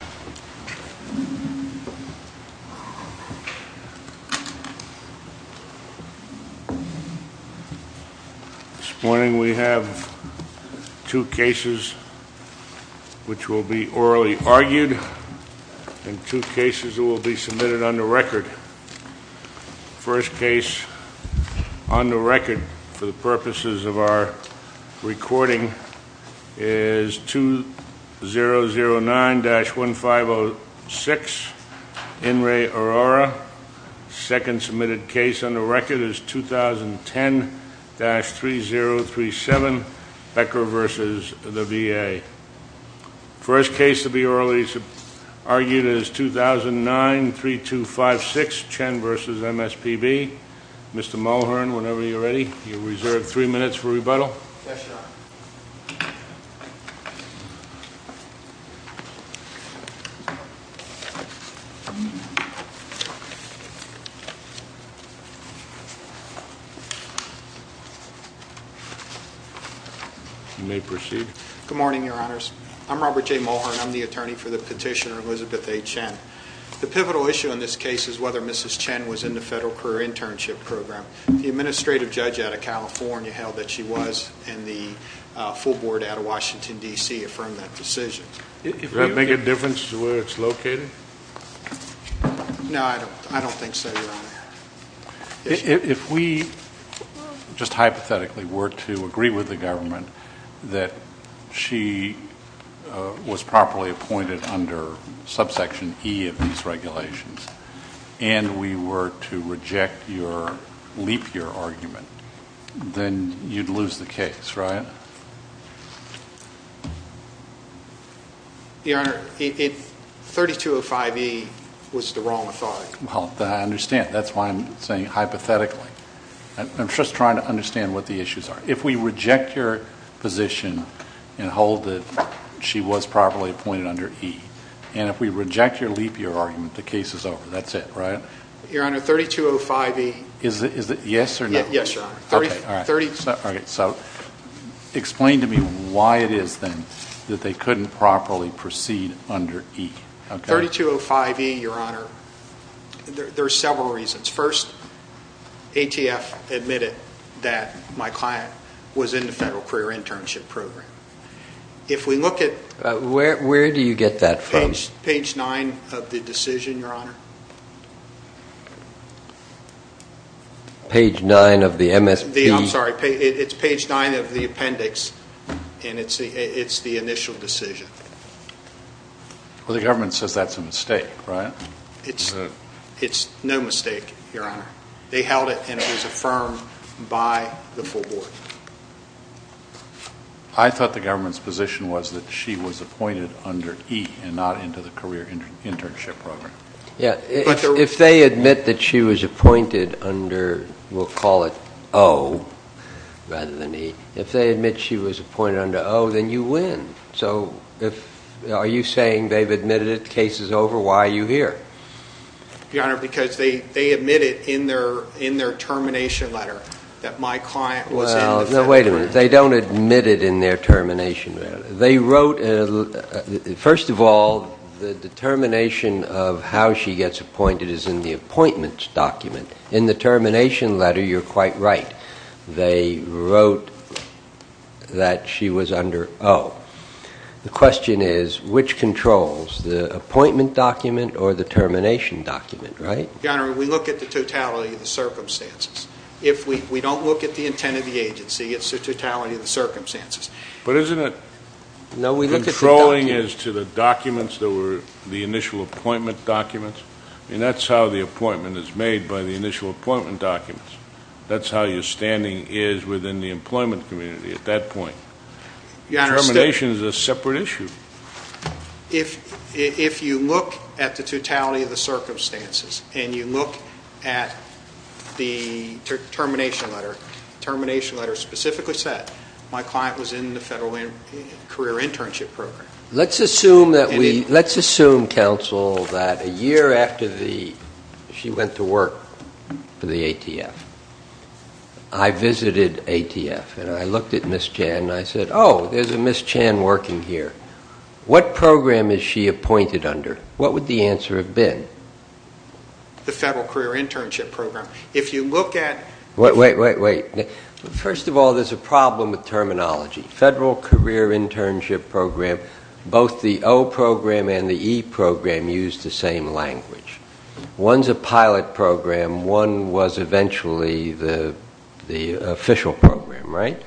This morning we have two cases which will be orally argued and two cases that will be submitted on the record. The first case on the record for the purposes of our recording is 2009-1506, In re, Aurora. The second submitted case on the record is 2010-3037, Becker v. the VA. The first case to be orally argued is 2009-3256, Chen v. MSPB. Mr. Mulhern, whenever you're ready, Mr. Mulhern. You may proceed. MR. MULHERN Good morning, Your Honors. I'm Robert J. Mulhern. I'm the attorney for the petitioner, Elizabeth A. Chen. The pivotal issue in this case is whether Mrs. Chen was in the Federal Career Internship Program. The administrative judge out of California held that she was, and the full board out of Washington, D.C. affirmed that decision. THE COURT Did that make a difference to where it's located? MR. MULHERN No, I don't think so, Your Honor. THE COURT If we just hypothetically were to agree with the government that she was properly appointed under subsection E of these regulations, and we were to reject your, leap your argument, then you'd lose the case, right? MR. MULHERN Your Honor, 3205E was the wrong authority. THE COURT Well, I understand. That's why I'm saying hypothetically. I'm just trying to understand what the issues are. If we reject your position and hold that she was properly appointed under E, and if we reject your, leap your argument, the case is over. That's it, right? MR. MULHERN Your Honor, 3205E THE COURT Is it yes or no? MR. MULHERN Yes, Your Honor. THE COURT Okay, all right. So explain to me why it is then that they couldn't properly proceed under E, okay? MR. MULHERN 3205E, Your Honor, there are several reasons. First, ATF admitted that my client was in the Federal Career Internship Program. If we look at page 9 of the appendix, and it's the initial decision. THE COURT Well, the government says that's a mistake, right? MR. MULHERN It's no mistake, Your Honor. They held it, and it was affirmed by the full board. THE COURT I thought the government's position was that she was appointed under E and not into the Career Internship Program. MR. BOUTROUS Yeah, if they admit that she was appointed under, we'll call it O, rather than E, if they admit she was appointed under O, then you win. So are you saying they've admitted it, the case is over? Why are you here? MR. MULHERN Your Honor, because they admitted in their termination letter that my client was in the Federal Career Internship Program. THE COURT Well, no, wait a minute. They don't admit it in their termination letter. They wrote, first of all, the determination of how she gets appointed is in the appointments document. In the termination letter, you're quite right. They wrote that she was under O. The question is, which controls, the appointment document or the termination document, right? MR. MULHERN Your Honor, we look at the totality of the circumstances. If we don't look at the intent of the agency, it's the totality of the circumstances. THE COURT But isn't it controlling as to the documents that were the initial appointment documents? I mean, that's how the appointment is made, by the initial appointment documents. That's how your standing is within the employment community at that point. MR. MULHERN Your Honor, the termination is a separate issue. MR. MULHERN If you look at the totality of the circumstances and you look at the termination letter, the termination letter specifically said my client was in the Federal Career Internship Program. THE COURT Let's assume that we, let's assume, counsel, that a year after the, she went to work for the ATF. I visited ATF and I looked at Ms. Chan and I said, oh, there's a Ms. Chan working here. What program is she appointed under? What would the answer have been? MR. MULHERN The Federal Career Internship Program. If you look at... THE COURT Wait, wait, wait, wait. First of all, there's a problem with terminology. Federal Career Internship Program, both the O Program and the E Program use the same language. One's a pilot program, one was eventually the official program, right?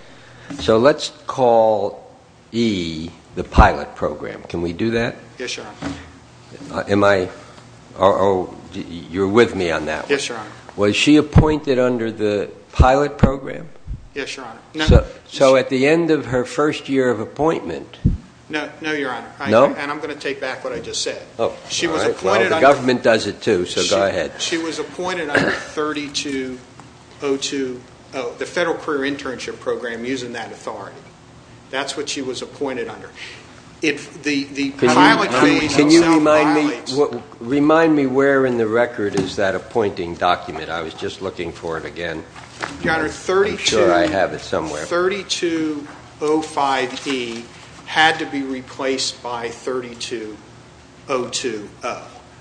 So let's call E the pilot program. Can we do that? MR. MULHERN Yes, Your Honor. THE COURT Am I, or you're with me on that one? MR. MULHERN Yes, Your Honor. THE COURT Was she appointed under the pilot program? MR. MULHERN Yes, Your Honor. THE COURT So at the end of her first year of appointment... MR. MULHERN No, Your Honor. THE COURT No? MR. MULHERN And I'm going to take back what I just said. THE COURT Well, the government does it too, so go ahead. MR. MULHERN She was appointed under 3202, the Federal Career Internship Program, using that authority. That's what she was appointed under. THE COURT Can you remind me where in the record is that appointing document? I was just looking for it again. I'm sure I have it somewhere. MR. MULHERN 3205E had to be replaced by 32020.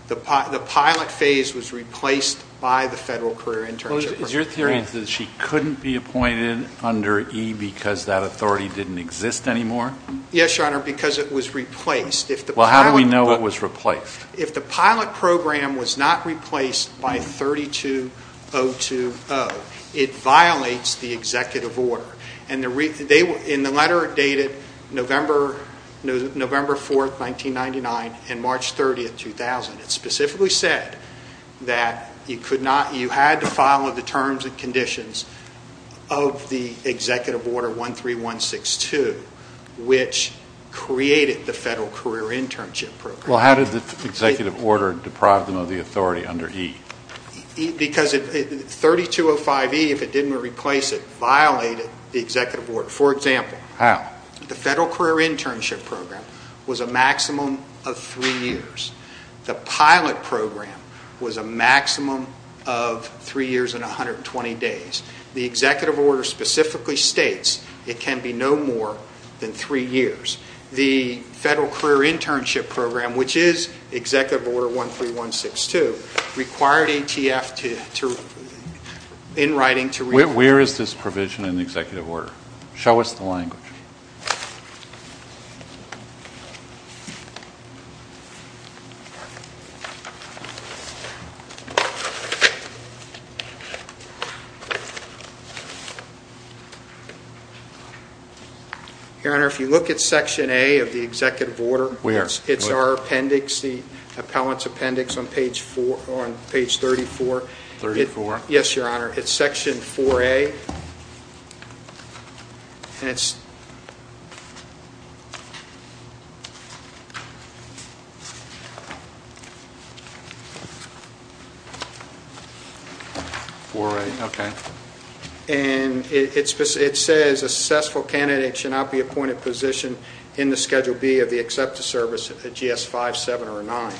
The pilot phase was replaced by the Federal Career Internship Program. THE COURT Is your theory that she couldn't be appointed under E because that authority didn't exist anymore? MR. MULHERN Yes, Your Honor, because it was replaced. If the pilot... THE COURT Well, how do we know it was replaced? MR. MULHERN If the pilot program was not replaced by 32020, it violates the executive order. In the letter dated November 4, 1999, and March 30, 2000, it specifically said that you had to follow the terms and conditions of the executive order 13162, which created the Federal Career Internship Program. THE COURT Well, how did the executive order deprive them of the authority under E? MR. MULHERN Because 3205E, if it didn't replace it, violated the executive order. For example... THE COURT How? MR. MULHERN The Federal Career Internship Program was a maximum of three years. The pilot program was a maximum of three years and 120 days. The executive order specifically states it can be no more than three years. The Federal Career Internship Program, which is 13162, required ATF to, in writing, to... THE COURT Where is this provision in the executive order? Show us the language. MR. MULHERN Your Honor, if you look at section A of the executive order... THE COURT Where? MR. MULHERN The appellant's appendix on page 34. THE COURT 34? MR. MULHERN Yes, Your Honor. It's section 4A. THE COURT 4A, okay. MR. MULHERN And it says a successful candidate should not be appointed position in the Schedule B of the Accepted Service at GS 5, 7, or 9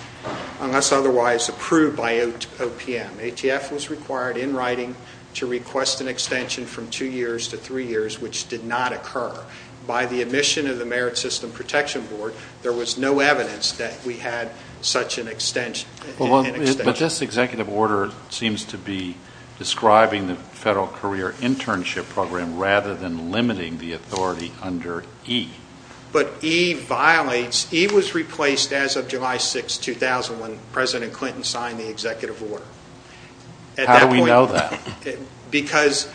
unless otherwise approved by OPM. ATF was required, in writing, to request an extension from two years to three years, which did not occur. By the admission of the Merit System Protection Board, there was no evidence that we had such an extension. THE COURT But this executive order seems to be describing the Federal Career Internship Program rather than limiting the authority under E. But E was replaced as of July 6, 2000, when President Clinton signed the executive order. MR. MULHERN How do we know that? MR. MULHERN Because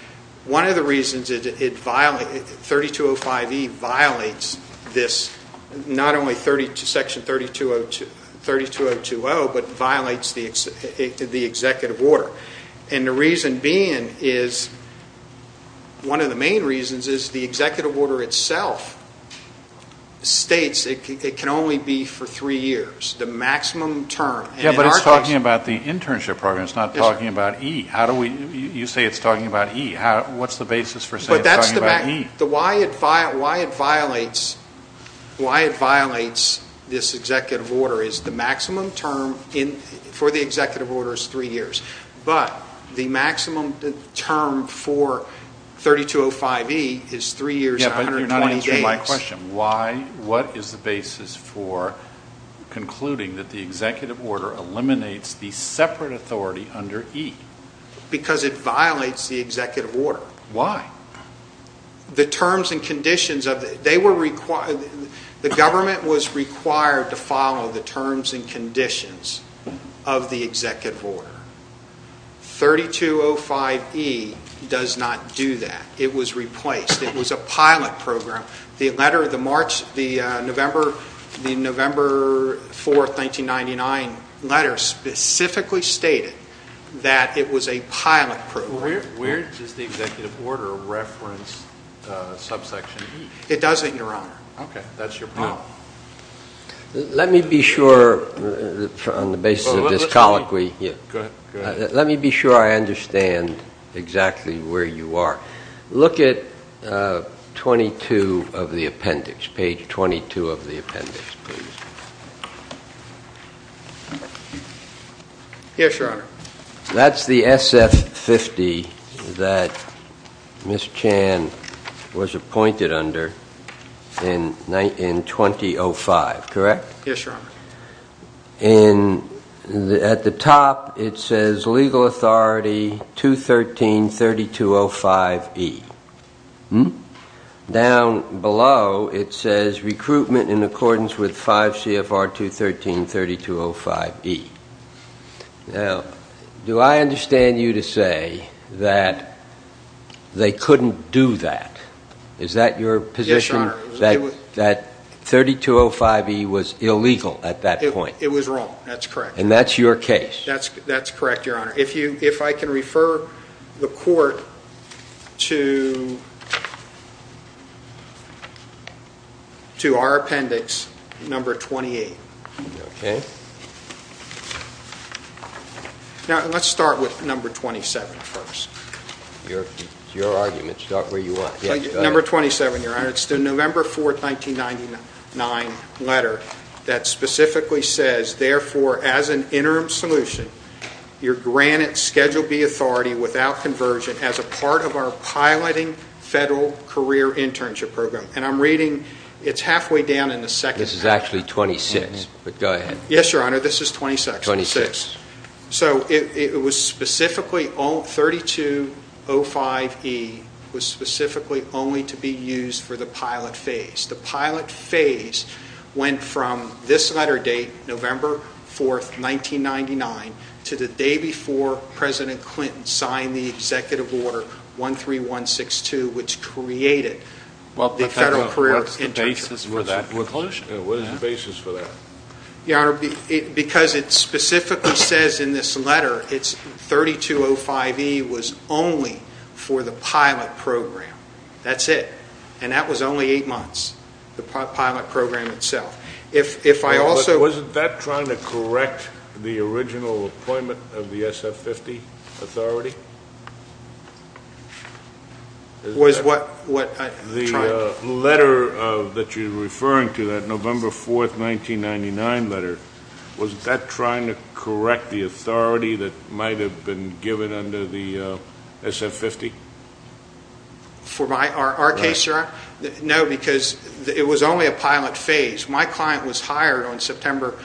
one of the reasons 3205E violates this, not only section 32020, but violates the executive order. And the reason being is, one of the main reasons is the executive order itself states it can only be for three years. The maximum term. THE COURT But it's talking about the internship program. It's not talking about E. You say it's talking about E. What's the basis for saying it's talking about E? MR. MULHERN Why it violates this executive order is the maximum term for the executive order. THE COURT But you're not answering my question. What is the basis for concluding that the executive order eliminates the separate authority under E? MR. MULHERN Because it violates the executive order. THE COURT Why? MR. MULHERN The government was required to follow the terms and conditions of the executive order. The November 4, 1999 letter specifically stated that it was a pilot program. THE COURT Where does the executive order reference subsection E? MR. MULHERN It doesn't, Your Honor. THE COURT Okay. That's your problem. MR. ZIEGLER Let me be sure, on the basis of this colloquy here, let me be sure I understand exactly where you are. Look at 22 of the appendix, page 22 of the appendix, please. MR. MULHERN Yes, Your Honor. THE COURT That's the SF-50 that Ms. Chan was appointed under in 2005, correct? MR. MULHERN Yes, Your Honor. THE COURT And at the top, it says, Legal Authority 213-3205E. Down below, it says, Recruitment in accordance with 5 CFR 213-3205E. Now, do I understand you to say that they couldn't do that? Is that your position? MR. MULHERN It was wrong. That's correct. THE COURT And that's your case? MR. MULHERN That's correct, Your Honor. If I can refer the Court to our appendix number 28. THE COURT Okay. MR. MULHERN Now, let's start with number 27 first. THE COURT Your argument. Start where you want. MR. MULHERN Number 27, Your Honor. It's the November 4, 1999 letter that specifically says, therefore, as an interim solution, you're granted Schedule B authority without conversion as a part of our piloting federal career internship program. And I'm reading, it's halfway down in the second page. THE COURT This is actually 26, but go ahead. MR. MULHERN Yes, Your Honor. This is 26. THE COURT 26. MR. MULHERN It was specifically, 3205E was specifically only to be used for the pilot phase. The pilot phase went from this letter date, November 4, 1999, to the day before President Clinton signed the Executive Order 13162, which created the federal career internship. THE COURT What is the basis for that? MR. MULHERN Your Honor, because it specifically says in this letter, 3205E was only for the pilot program. That's it. And that was only eight months, the pilot program itself. If I also... THE COURT Wasn't that trying to correct the original MR. MULHERN The letter that you're referring to, that might have been given under the SF50? MR. MULHERN For my, our case, Your Honor? MR. MULHERN No, because it was only a pilot phase. My client was hired on September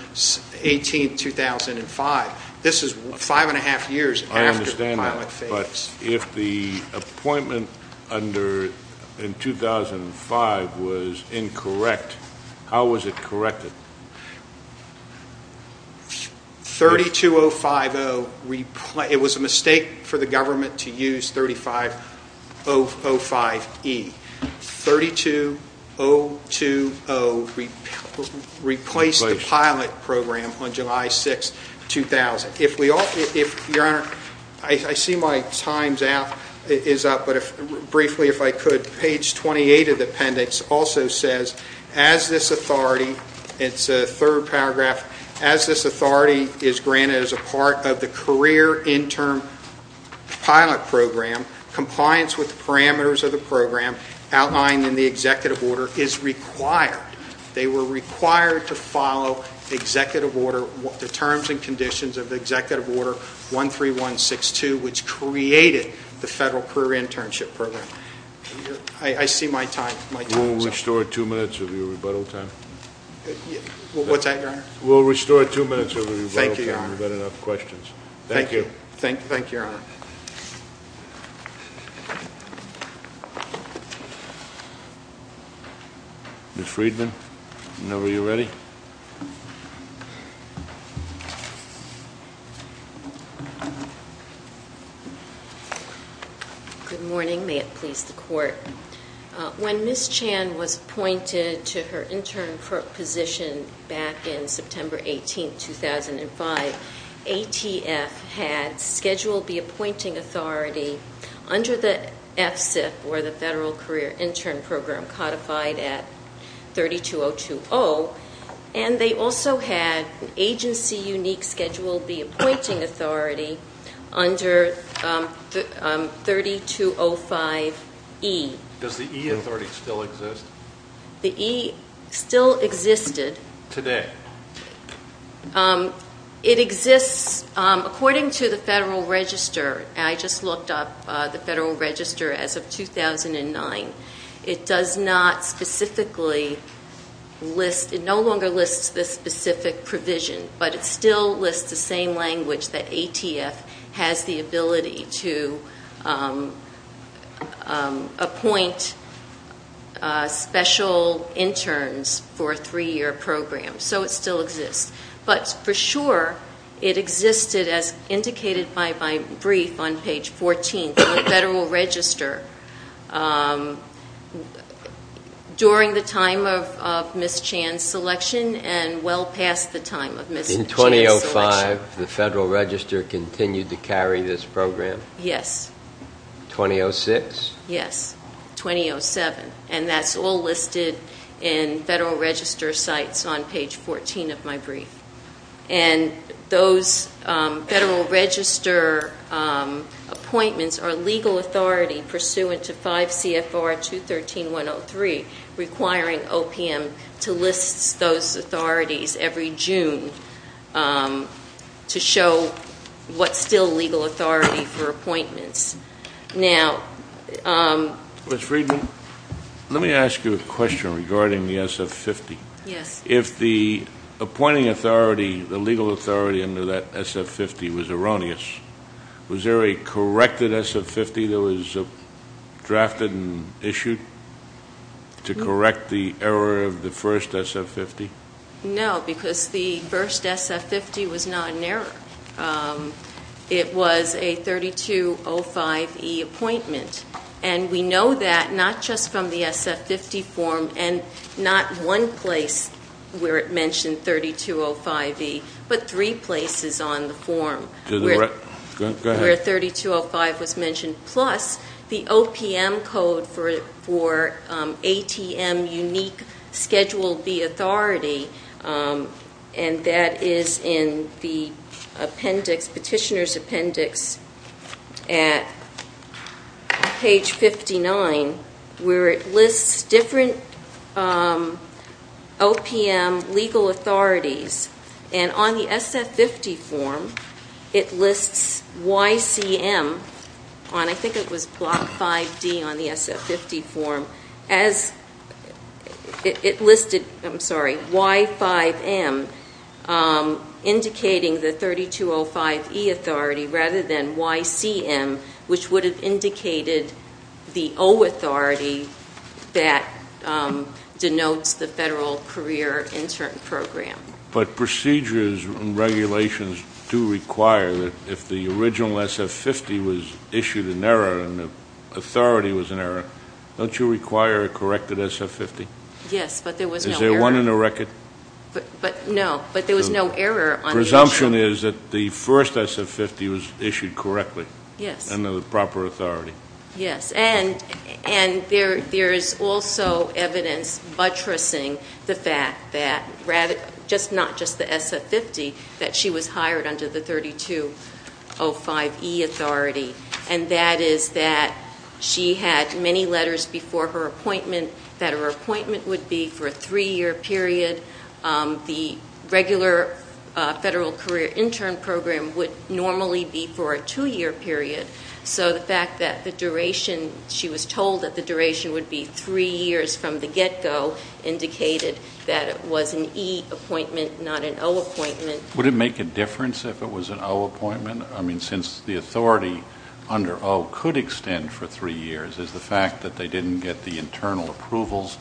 18, 2005. This is five and a half years after the pilot phase. THE COURT I understand that. But if the appointment under, in 2005, was incorrect, how was it corrected? MR. MULHERN 32050, it was a mistake for the government to use 3505E. 32020 replaced the pilot program on July 6, 2000. If we all, if Your Honor, I see my time's out, is up, briefly, if I could, page 28 of the appendix also says, as this authority, it's a third paragraph, as this authority is granted as a part of the career intern pilot program, compliance with the parameters of the program outlined in the executive order is required. They were required to follow executive order, the terms and conditions of executive order 13162, which created the Federal Career Internship Program. I see my time. THE COURT We'll restore two minutes of your rebuttal time. MR. MULHERN What's that, Your Honor? THE COURT We'll restore two minutes of your rebuttal time. MR. MULHERN Thank you, Your Honor. THE COURT We've had enough questions. Thank you. MR. MULHERN Thank you, Your Honor. THE COURT Ms. Friedman, are you ready? MS. FRIEDMAN Good morning. May it please the Court. When Ms. Chan was appointed to her intern position back in September 18, 2005, ATF had scheduled the appointing authority under the FSIP, or the Federal Career Intern Program, codified at 32020. And they also had agency-unique schedule the appointing authority under 3205E. MR. MULHERN Does the E authority still exist? MS. FRIEDMAN The E still existed. MR. MULHERN Today? MS. FRIEDMAN It exists according to the Federal Register. I just looked up the Federal Register as of 2009. It no longer lists the specific provision, but it still lists the same language that ATF has the ability to appoint special interns for a three-year program. So it still lists the Federal Register during the time of Ms. Chan's selection and well past the time of Ms. Chan's selection. MR. MULHERN In 2005, the Federal Register continued to carry this program? MS. FRIEDMAN Yes. MR. MULHERN 2006? MS. FRIEDMAN Yes. 2007. And that's all listed in Federal Register sites on page 14 of my brief. And those Federal Register appointments are legal authority pursuant to 5 CFR 213.103, requiring OPM to list those authorities every June to show what's still legal authority for appointments. MR. MULHERN Ms. Friedman, let me ask you a question regarding the SF-50. MS. FRIEDMAN Yes. MR. MULHERN If the appointing authority, the legal authority under that SF-50 was erroneous, was there a corrected SF-50 that was drafted and issued to correct the error of the first SF-50? MS. FRIEDMAN No, because the first SF-50 was not an error. It was a 3205E appointment. And we know that not just from the SF-50 form and not one place where it mentioned 3205E, but three places on the form. MR. MULHERN Go ahead. MS. FRIEDMAN Where 3205 was mentioned, plus the OPM code for ATM unique Schedule B authority. And that is in the appendix, Petitioner's Appendix at page 59, where it lists different OPM legal authorities. And on the SF-50 form, it lists YCM on, I think it was Block 5D on the SF-50 form, as it listed, I'm sorry, Y5M indicating the 3205E authority rather than YCM, which would have indicated the O authority that denotes the Federal Career Intern Program. MR. MULHERN But procedures and regulations do require that if the original SF-50 was issued an error and the authority was an error, don't you require a corrected SF-50? MS. FRIEDMAN Yes, but there was no error. MR. MULHERN Is there one in the record? MS. FRIEDMAN No, but there was no error on the issue. MR. MULHERN The presumption is that the first SF-50 was issued correctly? MS. FRIEDMAN Yes. MR. MULHERN Under the proper authority. MS. FRIEDMAN Yes, and there is also evidence buttressing the fact that, not just the SF-50, that she was hired under the 3205E authority, and that is that she had many letters before her appointment that her appointment would be for a three-year period. The regular Federal Career Intern Program would normally be for a two-year period. So the fact that the duration, she was told that the duration would be three years from the get-go indicated that it was an E appointment, not an O appointment. MR. MULHERN Would it make a difference if it was an O appointment? I mean, since the authority under O could extend for three years, is the fact that they didn't get the internal approvals,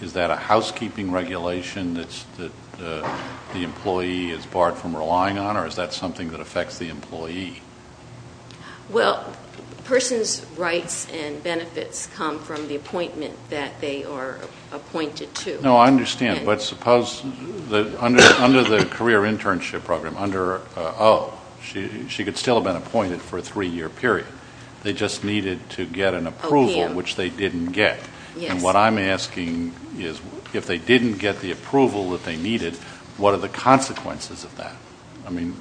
is that a housekeeping regulation that the employee is barred from relying on, or is that something that affects the employee? MS. FRIEDMAN Well, a person's rights and benefits come from the appointment that they are appointed to. MR. MULHERN No, I understand, but suppose that under the Career Internship Program, under O, she could still have been appointed for a three-year period. They just needed to get an approval, which they didn't get. MS. FRIEDMAN Yes. MR. MULHERN And what I'm asking is, if they didn't get the approval that they needed, what are the consequences of that? I mean,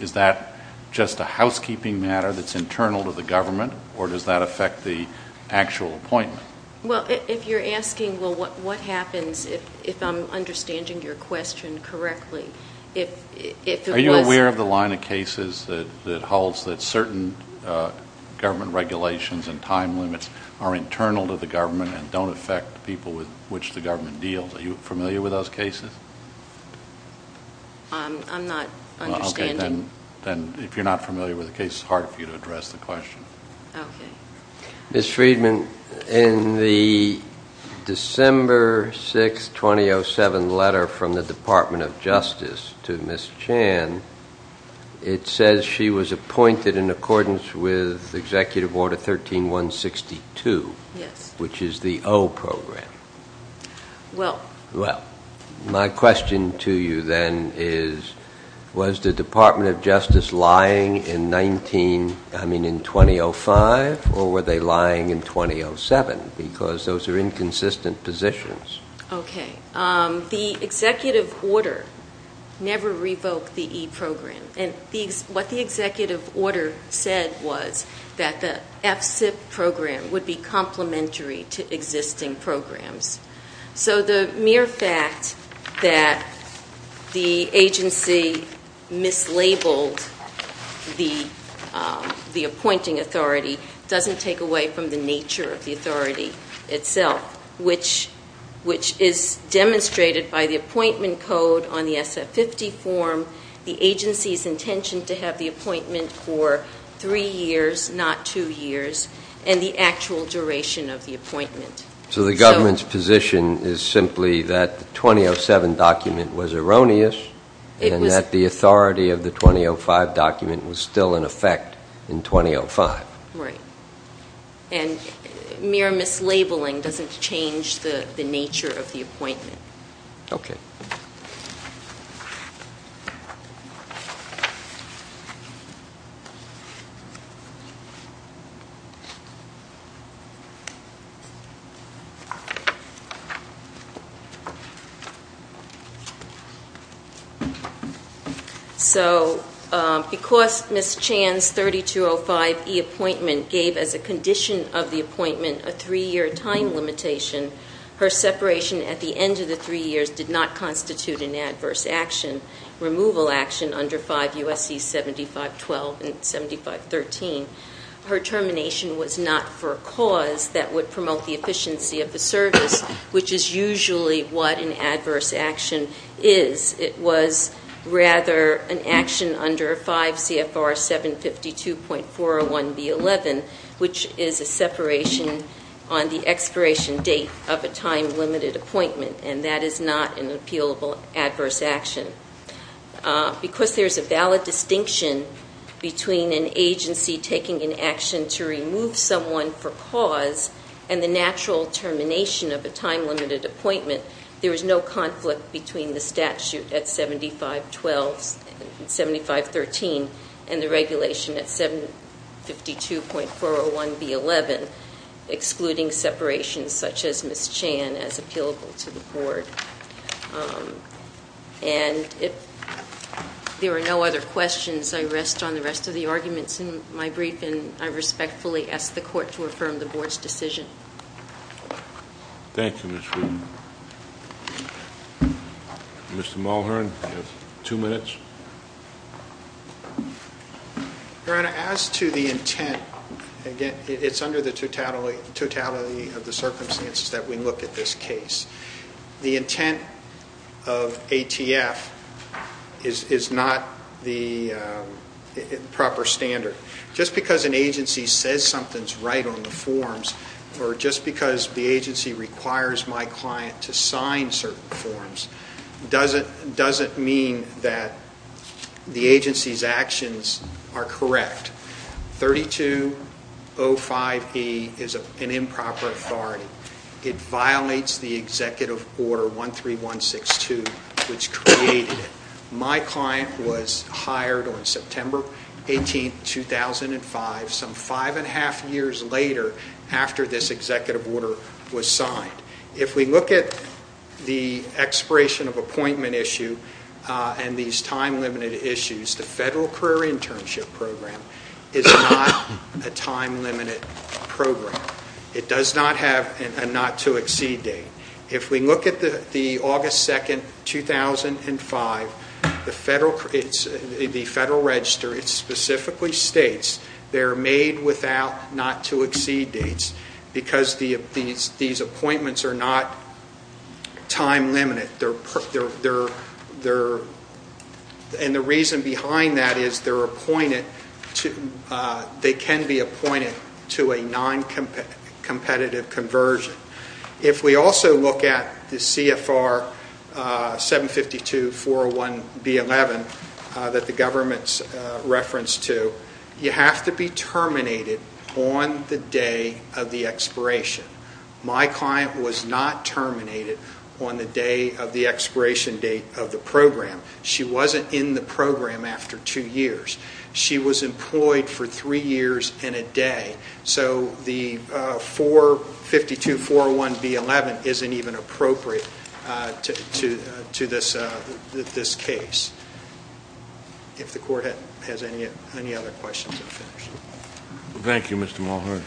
is that just a housekeeping matter that's internal to the government, or does that affect the actual appointment? MS. FRIEDMAN Well, if you're asking, well, what happens if I'm understanding your question If it was – MR. MULHERN Are you aware of the line of cases that holds that certain government regulations and time limits are internal to the government and don't affect the people with which the government deals? Are you familiar with those cases? MS. FRIEDMAN I'm not understanding – MR. MULHERN Okay, then if you're not familiar with the case, it's hard for you to address MS. FRIEDMAN Okay. MR. MILBRAD Ms. Friedman, in the December 6, 2007 letter from the Department of Justice to Ms. Chan, it says she was appointed in accordance with Executive Order 13162, which is the O program. MS. FRIEDMAN Well – MR. MILBRAD My question to you then is, was the Department of Justice lying in 19 – I mean in 2005, or were they lying in 2007? Because those are inconsistent positions. MS. FRIEDMAN Okay. The Executive Order never revoked the E program. And what the Executive Order said was that the F-CIP program would be complementary to existing programs. So the mere fact that the agency mislabeled the appointing authority doesn't take away from the nature of the authority itself, which is demonstrated by the appointment code on the SF-50 form, the agency's intention to have the appointment for three years, not two years, and the actual duration of the appointment. MR. MILBRAD So the government's position is simply that the 2007 document was erroneous and that the authority of the 2005 document was still in effect in 2005. MS. FRIEDMAN Right. And mere mislabeling doesn't change the nature of the appointment. MR. MILBRAD Okay. MS. FRIEDMAN So because Ms. Chan's 3205E appointment gave as a condition of the appointment a three-year time limitation, her separation at the end of the three years did not constitute an adverse action, removal action under 5 U.S.C. 7512 and 7513. Her termination was not for a cause that would promote the efficiency of the service, which is usually what an adverse action is. It was rather an action under 5 CFR 752.401B11, which is a separation on the expiration date of a time-limited appointment, and that is not an appealable adverse action. Because there is a valid distinction between an agency taking an action to remove someone for cause and the natural termination of a time-limited appointment, there is no conflict between the statute at 7512 and 7513 and the regulation at 752.401B11, excluding separations such as Ms. Chan as appealable to the Board. And if there are no other questions, I rest on the rest of the arguments in my briefing. I respectfully ask the Court to affirm the Board's decision. THE COURT Thank you, Ms. Friedman. Mr. Mulhern, you have two minutes. MR. MULHERN Your Honor, as to the intent, again, it's under the totality of the circumstances that we look at this case. The intent of ATF is not the proper standard. Just because an agency says something is right on the forms or just because the agency requires my client to sign certain forms doesn't mean that the agency's actions are correct. 3205E is an improper authority. It violates the Executive Order 13162, which created it. My client was hired on September 18, 2005, some five and a half years later after this Executive Order was signed. If we look at the expiration of appointment issue and these time-limited issues, the Federal Career Internship Program is not a time-limited program. It does not have a not-to-exceed date. If we look at August 2, 2005, the Federal Register specifically states they are made without not-to-exceed dates because these appointments are not time-limited. The reason behind that is they can be appointed to a non-competitive conversion. If we also look at the CFR 752-401-B11 that the government's reference to, you have to be terminated on the day of the expiration. My client was not terminated on the day of the expiration date of the program. She wasn't in the program after two years. She was employed for three years and a day. So the 452-401-B11 isn't even appropriate to this case. If the Court has any other questions. Thank you, Mr. Mulhern.